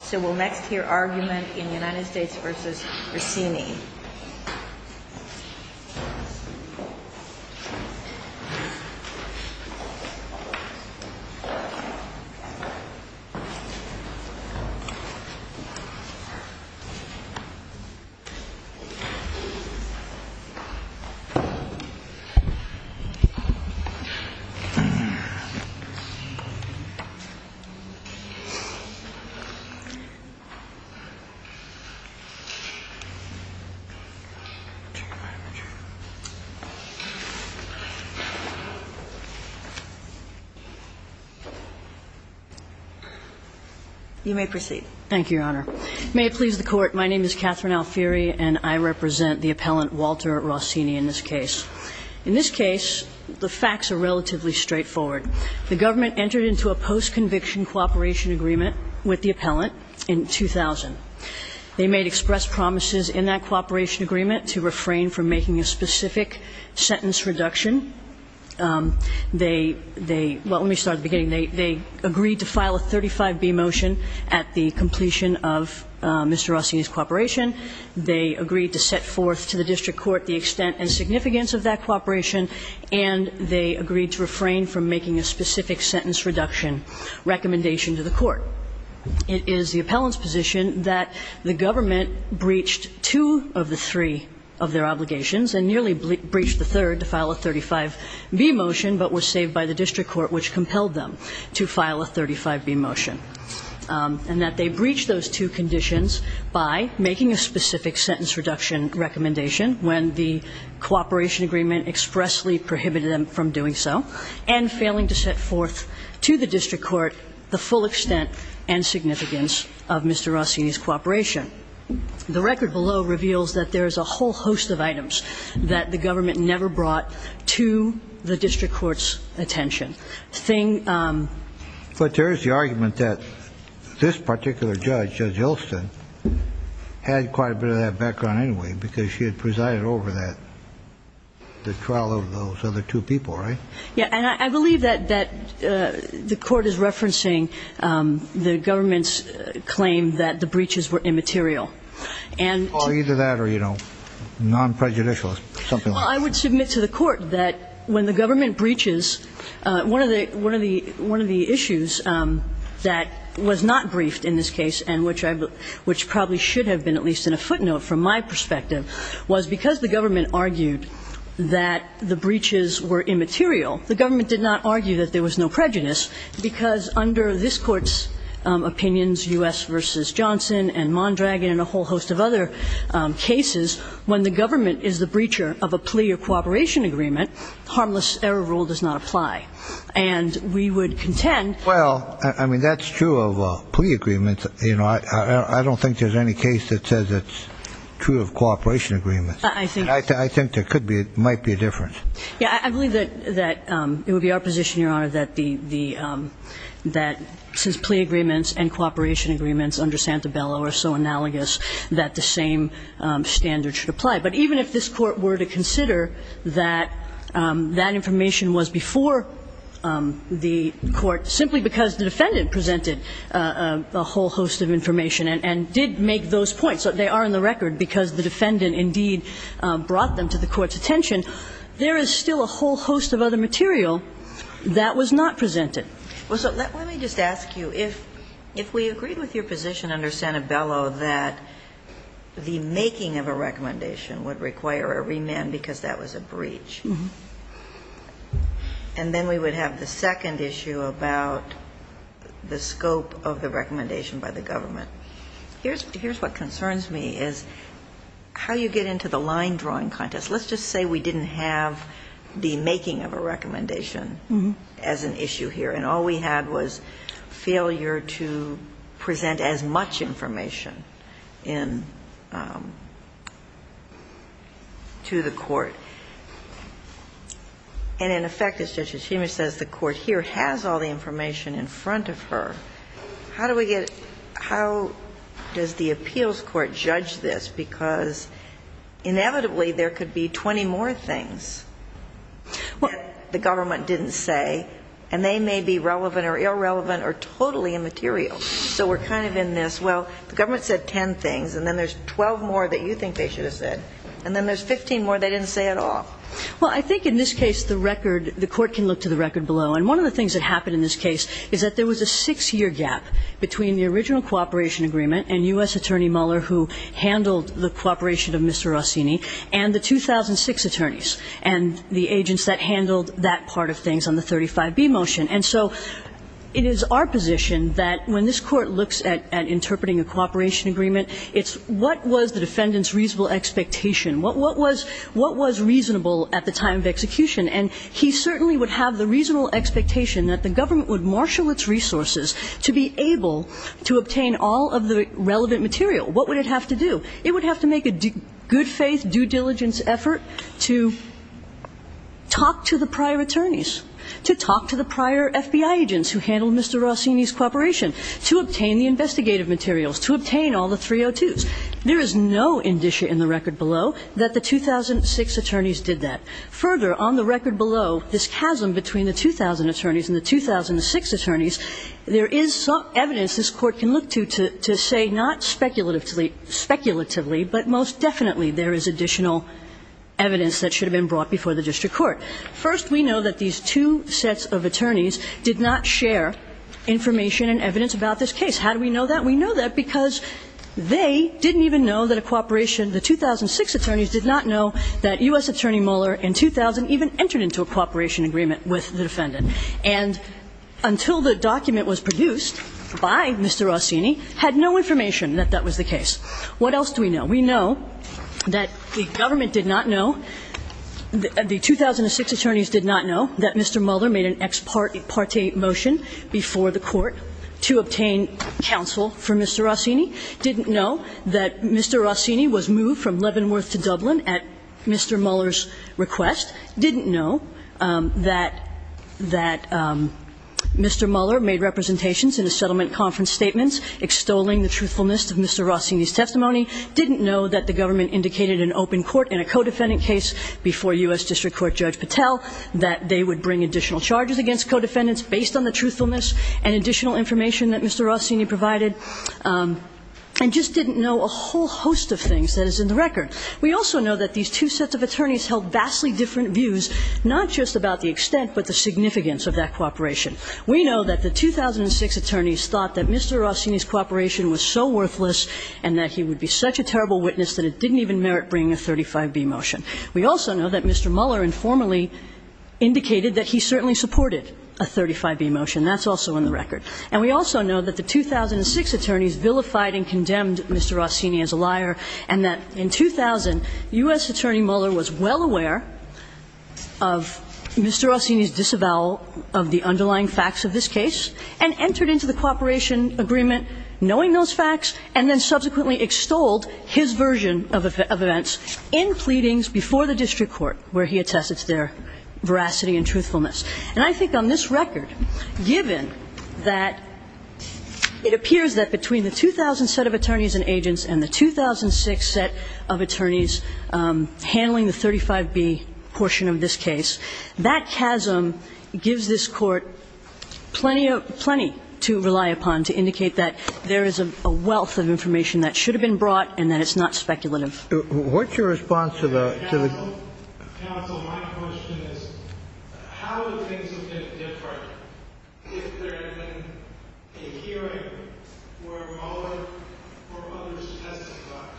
So we'll next hear argument in United States v. Rausini. You may proceed. Thank you, Your Honor. May it please the Court, my name is Catherine Alfieri, and I represent the appellant Walter Rausini in this case. In this case, the facts are relatively straightforward. The government entered into a post-conviction cooperation agreement with the appellant in 2000. They made express promises in that cooperation agreement to refrain from making a specific sentence reduction. They – they – well, let me start at the beginning. They agreed to file a 35B motion at the completion of Mr. Rausini's cooperation. They agreed to set forth to the district court the extent and significance of that cooperation, and they agreed to refrain from making a specific sentence reduction recommendation to the court. It is the appellant's position that the government breached two of the three of their obligations, and nearly breached the third to file a 35B motion, but was saved by the district court, which compelled them to file a 35B motion, and that they breached those two conditions by making a specific sentence reduction recommendation when the cooperation agreement expressly prohibited them from doing so, and failing to set forth to the district court the full extent and significance of Mr. Rausini's cooperation. The record below reveals that there is a whole host of items that the government never brought to the district court's attention. Thing – But there is the argument that this particular judge, Judge Elston, had quite a bit of that background anyway, because she had presided over that – the trial of those other two people, right? Yeah. And I believe that – that the court is referencing the government's claim that the breaches were immaterial. And – Well, either that or, you know, non-prejudicial, something like that. Well, I would submit to the court that when the government breaches, one of the – one of the – one of the issues that was not briefed in this case, and which I – which probably should have been at least in a footnote from my perspective, was because the government argued that the breaches were immaterial. The government did not argue that there was no prejudice, because under this court's opinions, U.S. v. Johnson and Mondragon and a whole host of other cases, when the government is the breacher of a plea or cooperation agreement, harmless error rule does not apply. And we would contend – Well, I mean, that's true of plea agreements. You know, I don't think there's any case that says it's true of cooperation agreements. I think – I think there could be – might be a difference. Yeah. I believe that – that it would be our position, Your Honor, that the – that since plea agreements and cooperation agreements under Santabello are so analogous that the same standard should apply. But even if this court were to consider that that information was before the court simply because the defendant presented a whole host of information and did make those points, so they are in the record because the defendant indeed brought them to the court's attention, there is still a whole host of other material that was not presented. Well, so let me just ask you, if we agreed with your position under Santabello that the making of a recommendation would require a remand because that was a breach, and then we would have the second issue about the scope of the recommendation by the government, here's – here's what concerns me is how you get into the line drawing contest. Let's just say we didn't have the making of a recommendation as an issue here, and all we had was failure to present as much information in – to the court. And in effect, as Judge Hashimich says, the court here has all the information in front of her. How do we get – how does the appeals court judge this? Because inevitably there could be 20 more things that the government didn't say, and they may be relevant or irrelevant or totally immaterial. So we're kind of in this, well, the government said 10 things, and then there's 12 more that you think they should have said, and then there's 15 more they didn't say at all. Well, I think in this case the record – the court can look to the record below. And one of the things that happened in this case is that there was a six-year gap between the original cooperation agreement and U.S. Attorney Mueller, who handled the cooperation of Mr. Rossini, and the 2006 attorneys and the agents that handled that part of things on the 35B motion. And so it is our position that when this Court looks at interpreting a cooperation agreement, it's what was the defendant's reasonable expectation? What was – what was reasonable at the time of execution? And he certainly would have the reasonable expectation that the government would marshal its resources to be able to obtain all of the relevant material. What would it have to do? It would have to make a good-faith, due-diligence effort to talk to the prior attorneys, to talk to the prior FBI agents who handled Mr. Rossini's cooperation, to obtain the investigative materials, to obtain all the 302s. There is no indicia in the record below that the 2006 attorneys did that. Further, on the record below, this chasm between the 2000 attorneys and the 2006 attorneys, there is some evidence this Court can look to to say not speculatively – speculatively, but most definitely there is additional evidence that should have been brought before the district court. First, we know that these two sets of attorneys did not share information and evidence about this case. How do we know that? We know that because they didn't even know that a cooperation – the 2006 attorneys did not know that U.S. Attorney Mueller in 2000 even entered into a cooperation agreement with the defendant, and until the document was produced by Mr. Rossini had no information that that was the case. What else do we know? We know that the government did not know – the 2006 attorneys did not know that Mr. Mueller made an ex parte motion before the Court to obtain counsel for Mr. Rossini, didn't know that Mr. Rossini was moved from Leavenworth to Dublin at Mr. Mueller's request, didn't know that – that Mr. Mueller made representations in a settlement conference statements extolling the truthfulness of Mr. Rossini's testimony, didn't know that the government indicated in open court in a co-defendant case before U.S. District Court Judge Patel that they would bring additional charges against co-defendants based on the truthfulness and additional information that Mr. Rossini provided, and just didn't know a whole host of things that is in the record. We also know that these two sets of attorneys held vastly different views, not just about the extent but the significance of that cooperation. We know that the 2006 attorneys thought that Mr. Rossini's cooperation was so worthless and that he would be such a terrible witness that it didn't even merit bringing a 35B motion. We also know that Mr. Mueller informally indicated that he certainly supported a 35B motion. That's also in the record. And we also know that the 2006 attorneys vilified and condemned Mr. Rossini as a liar and that in 2000, U.S. Attorney Mueller was well aware of Mr. Rossini's disavowal of the underlying facts of this case and entered into the cooperation agreement knowing those facts, and then subsequently extolled his version of events in pleadings before the district court where he attested to their veracity and truthfulness. And I think on this record, given that it appears that between the 2000 set of attorneys and agents and the 2006 set of attorneys handling the 35B portion of this case, that gives this Court plenty to rely upon to indicate that there is a wealth of information that should have been brought and that it's not speculative. What's your response to the question? Counsel, my question is how would things have been different if there had been a hearing where Mueller or others testified?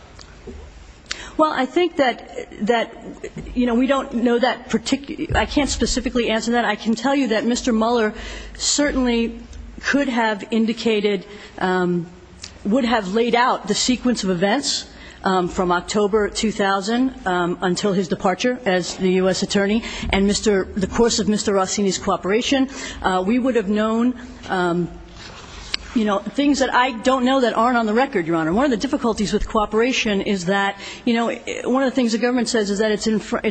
Well, I think that, you know, we don't know that particular – I can't specifically answer that. I can tell you that Mr. Mueller certainly could have indicated – would have laid out the sequence of events from October 2000 until his departure as the U.S. Attorney and Mr. – the course of Mr. Rossini's cooperation. We would have known, you know, things that I don't know that aren't on the record, Your Honor. One of the difficulties with cooperation is that, you know, one of the things the government says is that it's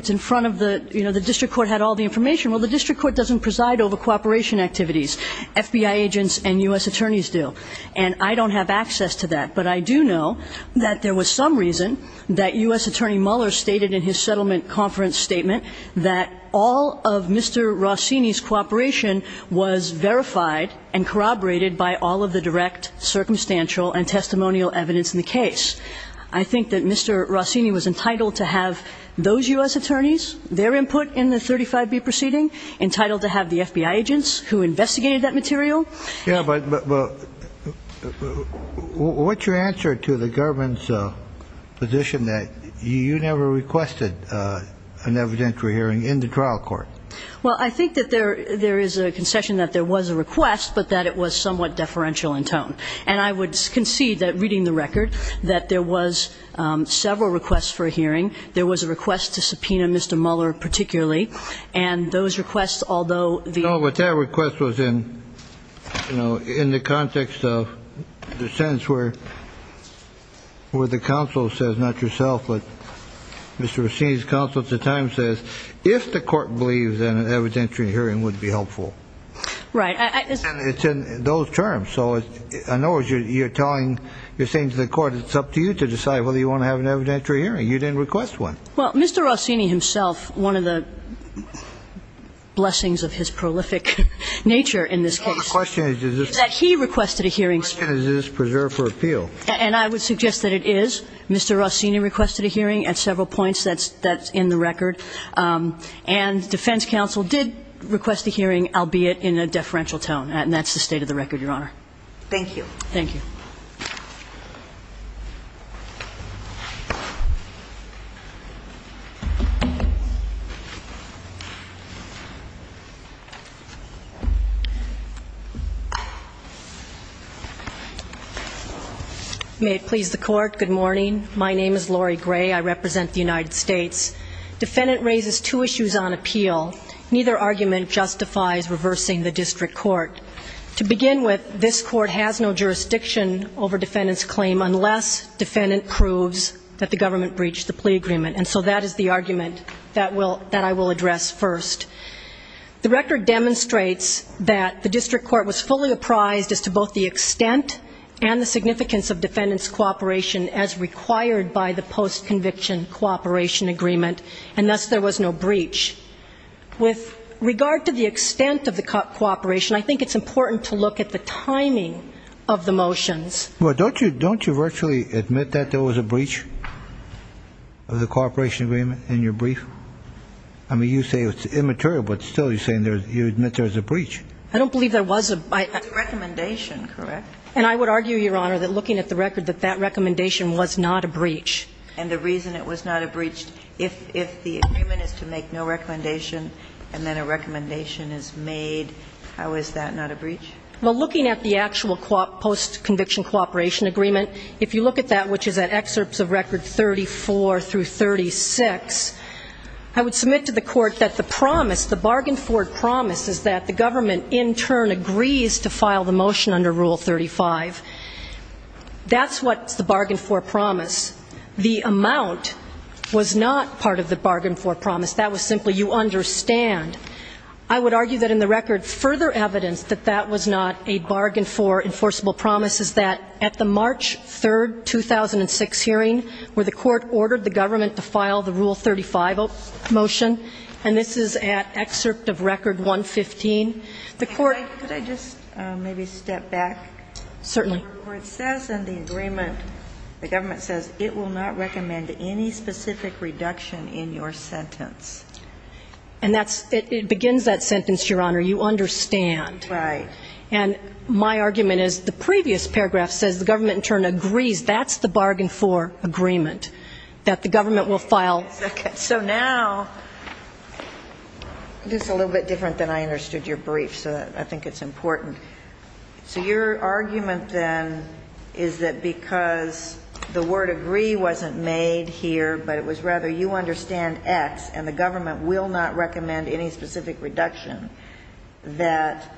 in front of the – you know, the district court had all the information. Well, the district court doesn't preside over cooperation activities. FBI agents and U.S. attorneys do. And I don't have access to that. But I do know that there was some reason that U.S. Attorney Mueller stated in his settlement conference statement that all of Mr. Rossini's cooperation was verified and corroborated by all of the direct circumstantial and testimonial evidence in the case. I think that Mr. Rossini was entitled to have those U.S. attorneys, their input in the 35B proceeding, entitled to have the FBI agents who investigated that material. Yeah, but what's your answer to the government's position that you never requested an evidentiary hearing in the trial court? Well, I think that there is a concession that there was a request, but that it was somewhat deferential in tone. And I would concede that, reading the record, that there was several requests for a hearing. There was a request to subpoena Mr. Mueller particularly. And those requests, although the – No, but that request was in, you know, in the context of the sentence where the counsel says, not yourself, but Mr. Rossini's counsel at the time says, if the court believes that an evidentiary hearing would be helpful. Right. And it's in those terms. So in other words, you're telling – you're saying to the court, it's up to you to decide whether you want to have an evidentiary hearing. You didn't request one. Well, Mr. Rossini himself, one of the blessings of his prolific nature in this case, is that he requested a hearing. The question is, is this preserved for appeal? And I would suggest that it is. Mr. Rossini requested a hearing at several points. That's in the record. And defense counsel did request a hearing, albeit in a deferential tone. And that's the state of the record, Your Honor. Thank you. Thank you. May it please the court, good morning. My name is Lori Gray. I represent the United States. Defendant raises two issues on appeal. Neither argument justifies reversing the district court. To begin with, this court has no jurisdiction over defendant's claim unless defendant proves that the government breached the plea agreement. And so that is the argument that I will address first. The record demonstrates that the district court was fully apprised as to both the extent and the significance of defendant's cooperation as required by the post-conviction cooperation agreement, and thus there was no breach. With regard to the extent of the cooperation, I think it's important to look at the timing of the motions. Well, don't you virtually admit that there was a breach of the cooperation agreement in your brief? I mean, you say it's immaterial, but still you're saying you admit there's a breach. I don't believe there was. It's a recommendation, correct? And I would argue, Your Honor, that looking at the record, that that recommendation was not a breach. And the reason it was not a breach, if the agreement is to make no recommendation and then a recommendation is made, how is that not a breach? Well, looking at the actual post-conviction cooperation agreement, if you look at that, which is at excerpts of record 34 through 36, I would submit to the court that the promise, the bargain for promise, is that the government in turn agrees to file the motion under Rule 35. That's what's the bargain for promise. The amount was not part of the bargain for promise. That was simply you understand. I would argue that in the record, further evidence that that was not a bargain for enforceable promise is that at the March 3, 2006 hearing, where the court ordered the government to file the Rule 35 motion, and this is at excerpt of record 115, the court – Could I just maybe step back? Certainly. The court says in the agreement, the government says it will not recommend any specific reduction in your sentence. And that's – it begins that sentence, Your Honor. You understand. Right. And my argument is the previous paragraph says the government in turn agrees that's the bargain for agreement, that the government will file – So now – this is a little bit different than I understood your brief, so I think it's important. So your argument then is that because the word agree wasn't made here, but it was rather you understand X and the government will not recommend any specific reduction, that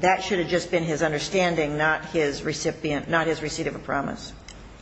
that should have just been his understanding, not his recipient – not his receipt of a promise.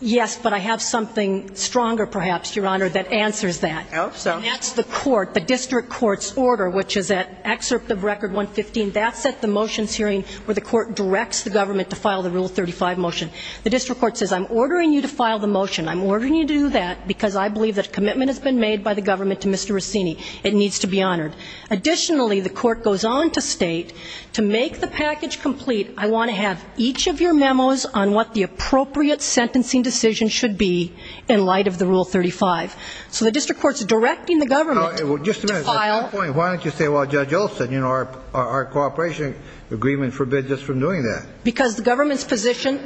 Yes. But I have something stronger perhaps, Your Honor, that answers that. I hope so. And that's the court, the district court's order, which is at excerpt of record 115. That's at the motions hearing where the court directs the government to file the Rule 35 motion. The district court says I'm ordering you to file the motion. I'm ordering you to do that because I believe that a commitment has been made by the government to Mr. Rossini. It needs to be honored. Additionally, the court goes on to state, to make the package complete, I want to have each of your memos on what the appropriate sentencing decision should be in light of the Rule 35. So the district court's directing the government to file. Just a minute. Why don't you say, well, Judge Olson, you know, our cooperation agreement forbids us from doing that. Because the government's position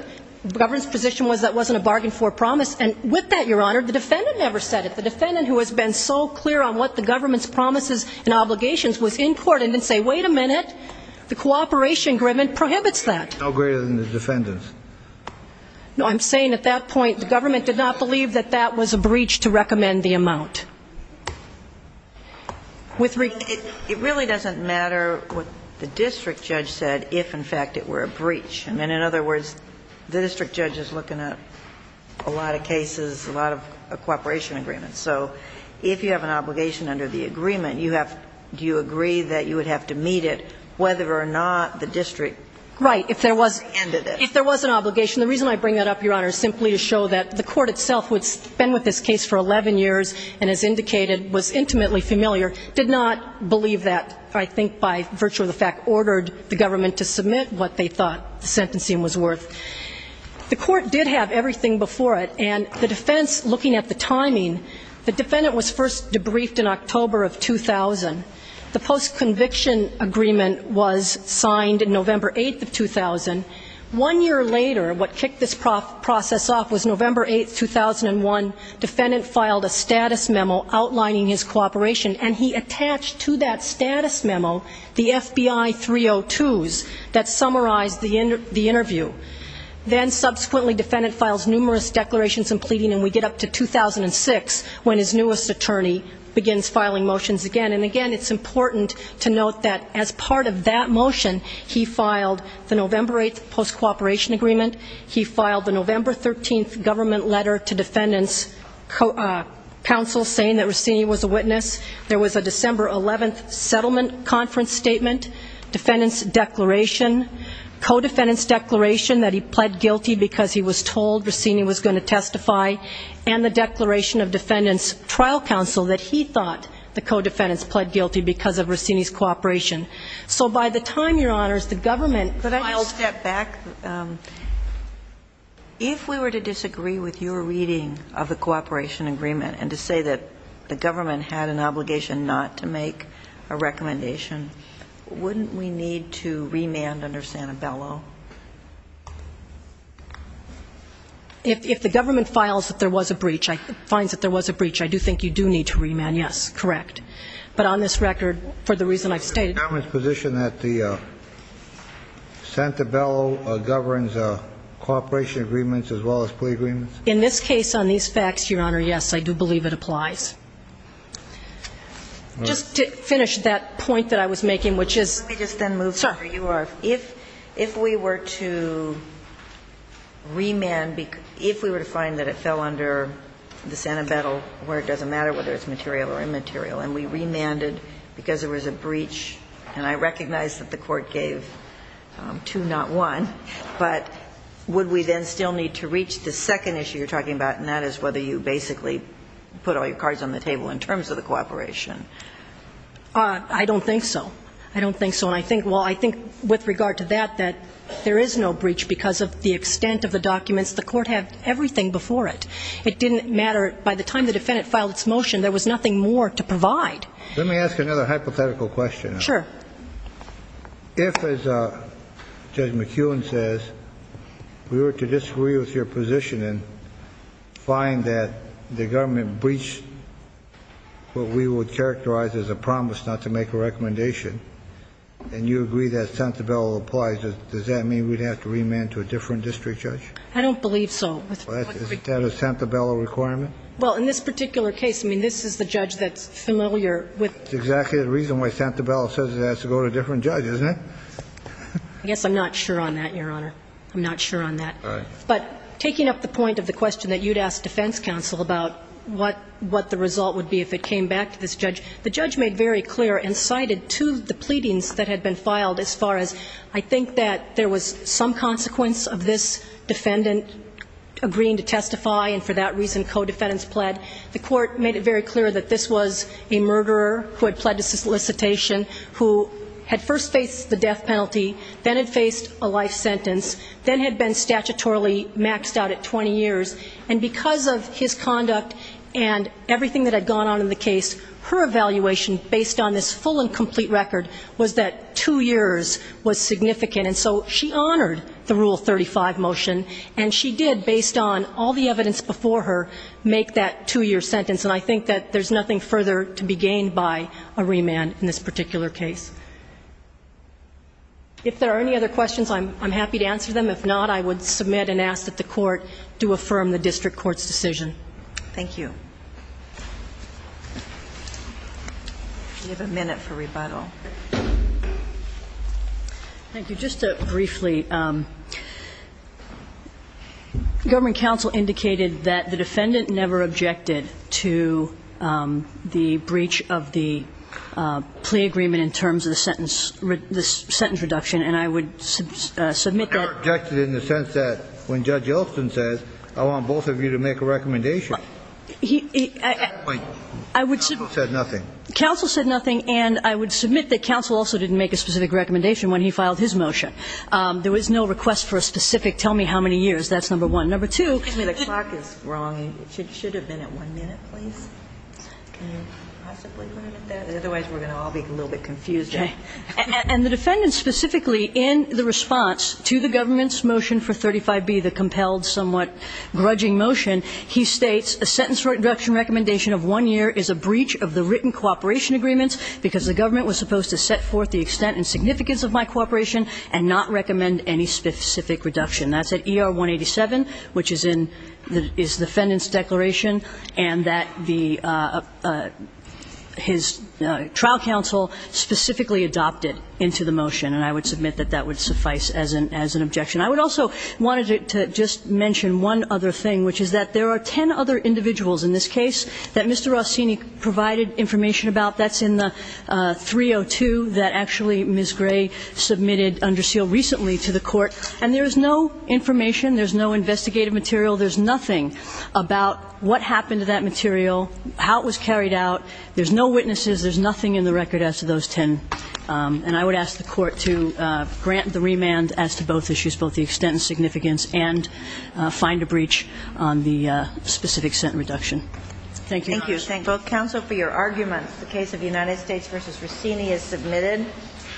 was that it wasn't a bargain for a promise, and with that, Your Honor, the defendant never said it. The defendant, who has been so clear on what the government's promises and obligations, was in court and didn't say, wait a minute, the cooperation agreement prohibits that. No greater than the defendant's. No, I'm saying at that point, the government did not believe that that was a breach to recommend the amount. It really doesn't matter what the district judge said if, in fact, it were a breach. I mean, in other words, the district judge is looking at a lot of cases, a lot of cooperation agreements. So if you have an obligation under the agreement, you have to agree that you would have to meet it, whether or not the district ended it. Right. If there was an obligation. The reason I bring that up, Your Honor, is simply to show that the court itself, who had been with this case for 11 years and, as indicated, was intimately familiar, did not believe that, I think by virtue of the fact, ordered the government to submit what they thought the sentencing was worth. The court did have everything before it, and the defense, looking at the timing, the defendant was first debriefed in October of 2000. The post-conviction agreement was signed November 8th of 2000. One year later, what kicked this process off was November 8th, 2001, defendant filed a status memo outlining his cooperation, and he attached to that status memo the FBI 302s that summarized the interview. And we get up to 2006, when his newest attorney begins filing motions again. And, again, it's important to note that, as part of that motion, he filed the November 8th post-cooperation agreement. He filed the November 13th government letter to defendants' counsel, saying that Rossini was a witness. There was a December 11th settlement conference statement, defendant's declaration, co-defendant's declaration that he pled guilty because he was told Rossini was going to testify, and the declaration of defendant's trial counsel that he thought the co-defendants pled guilty because of Rossini's cooperation. So by the time, Your Honors, the government was able to do that. Could I step back? If we were to disagree with your reading of the cooperation agreement and to say that the government had an obligation not to make a recommendation, wouldn't we need to remand under Santabello? If the government files that there was a breach, finds that there was a breach, I do think you do need to remand, yes. Correct. But on this record, for the reason I've stated. Is the government's position that Santabello governs cooperation agreements as well as plea agreements? In this case, on these facts, Your Honor, yes, I do believe it applies. Just to finish that point that I was making, which is. Let me just then move to where you are. If we were to remand, if we were to find that it fell under the Santabello where it doesn't matter whether it's material or immaterial and we remanded because there was a breach, and I recognize that the court gave two, not one, but would we then still need to reach the second issue you're talking about, and that is whether you basically put all your cards on the table in terms of the cooperation? I don't think so. I don't think so. Well, I think with regard to that, that there is no breach because of the extent of the documents. The court had everything before it. It didn't matter. By the time the defendant filed its motion, there was nothing more to provide. Let me ask another hypothetical question. Sure. If, as Judge McEwen says, we were to disagree with your position and find that the government breached what we would characterize as a promise not to make a recommendation, and you agree that Santabello applies, does that mean we'd have to remand to a different district judge? I don't believe so. Is that a Santabello requirement? Well, in this particular case, I mean, this is the judge that's familiar with... That's exactly the reason why Santabello says it has to go to a different judge, isn't it? I guess I'm not sure on that, Your Honor. I'm not sure on that. All right. But taking up the point of the question that you'd ask defense counsel about what the result would be if it came back to this judge, the judge made very clear and cited two of the pleadings that had been filed as far as I think that there was some consequence of this defendant agreeing to testify and for that reason co-defendants pled. The court made it very clear that this was a murderer who had pled to solicitation, who had first faced the death penalty, then had faced a life sentence, then had been statutorily maxed out at 20 years. And because of his conduct and everything that had gone on in the case, her evaluation based on this full and complete record was that two years was significant. And so she honored the Rule 35 motion, and she did based on all the evidence before her make that two-year sentence. And I think that there's nothing further to be gained by a remand in this particular case. If there are any other questions, I'm happy to answer them. If not, I would submit and ask that the court do affirm the district court's decision. Thank you. We have a minute for rebuttal. Thank you. Just briefly, government counsel indicated that the defendant never objected to the breach of the plea agreement in terms of the sentence reduction, and I would submit that the defendant never objected in the sense that when Judge Elston says, I want both of you to make a recommendation. At that point, counsel said nothing. Counsel said nothing, and I would submit that counsel also didn't make a specific recommendation when he filed his motion. There was no request for a specific tell me how many years. That's number one. Number two. Excuse me. The clock is wrong. It should have been at one minute, please. Can you possibly limit that? Otherwise, we're going to all be a little bit confused. Okay. And the defendant specifically in the response to the government's motion for 35B, the compelled, somewhat grudging motion, he states, a sentence reduction recommendation of one year is a breach of the written cooperation agreements because the government was supposed to set forth the extent and significance of my cooperation and not recommend any specific reduction. That's at ER 187, which is in the defendant's declaration and that the his trial counsel specifically adopted into the motion, and I would submit that that would suffice as an objection. I would also want to just mention one other thing, which is that there are ten other individuals in this case that Mr. Rossini provided information about. That's in the 302 that actually Ms. Gray submitted under seal recently to the Court, and there is no information. There's no investigative material. There's nothing about what happened to that material, how it was carried out. There's no witnesses. There's nothing in the record as to those ten. And I would ask the Court to grant the remand as to both issues, both the extent and significance, and find a breach on the specific sentence reduction. Thank you. Thank you. Thank you both counsel for your arguments. The case of United States v. Rossini is submitted.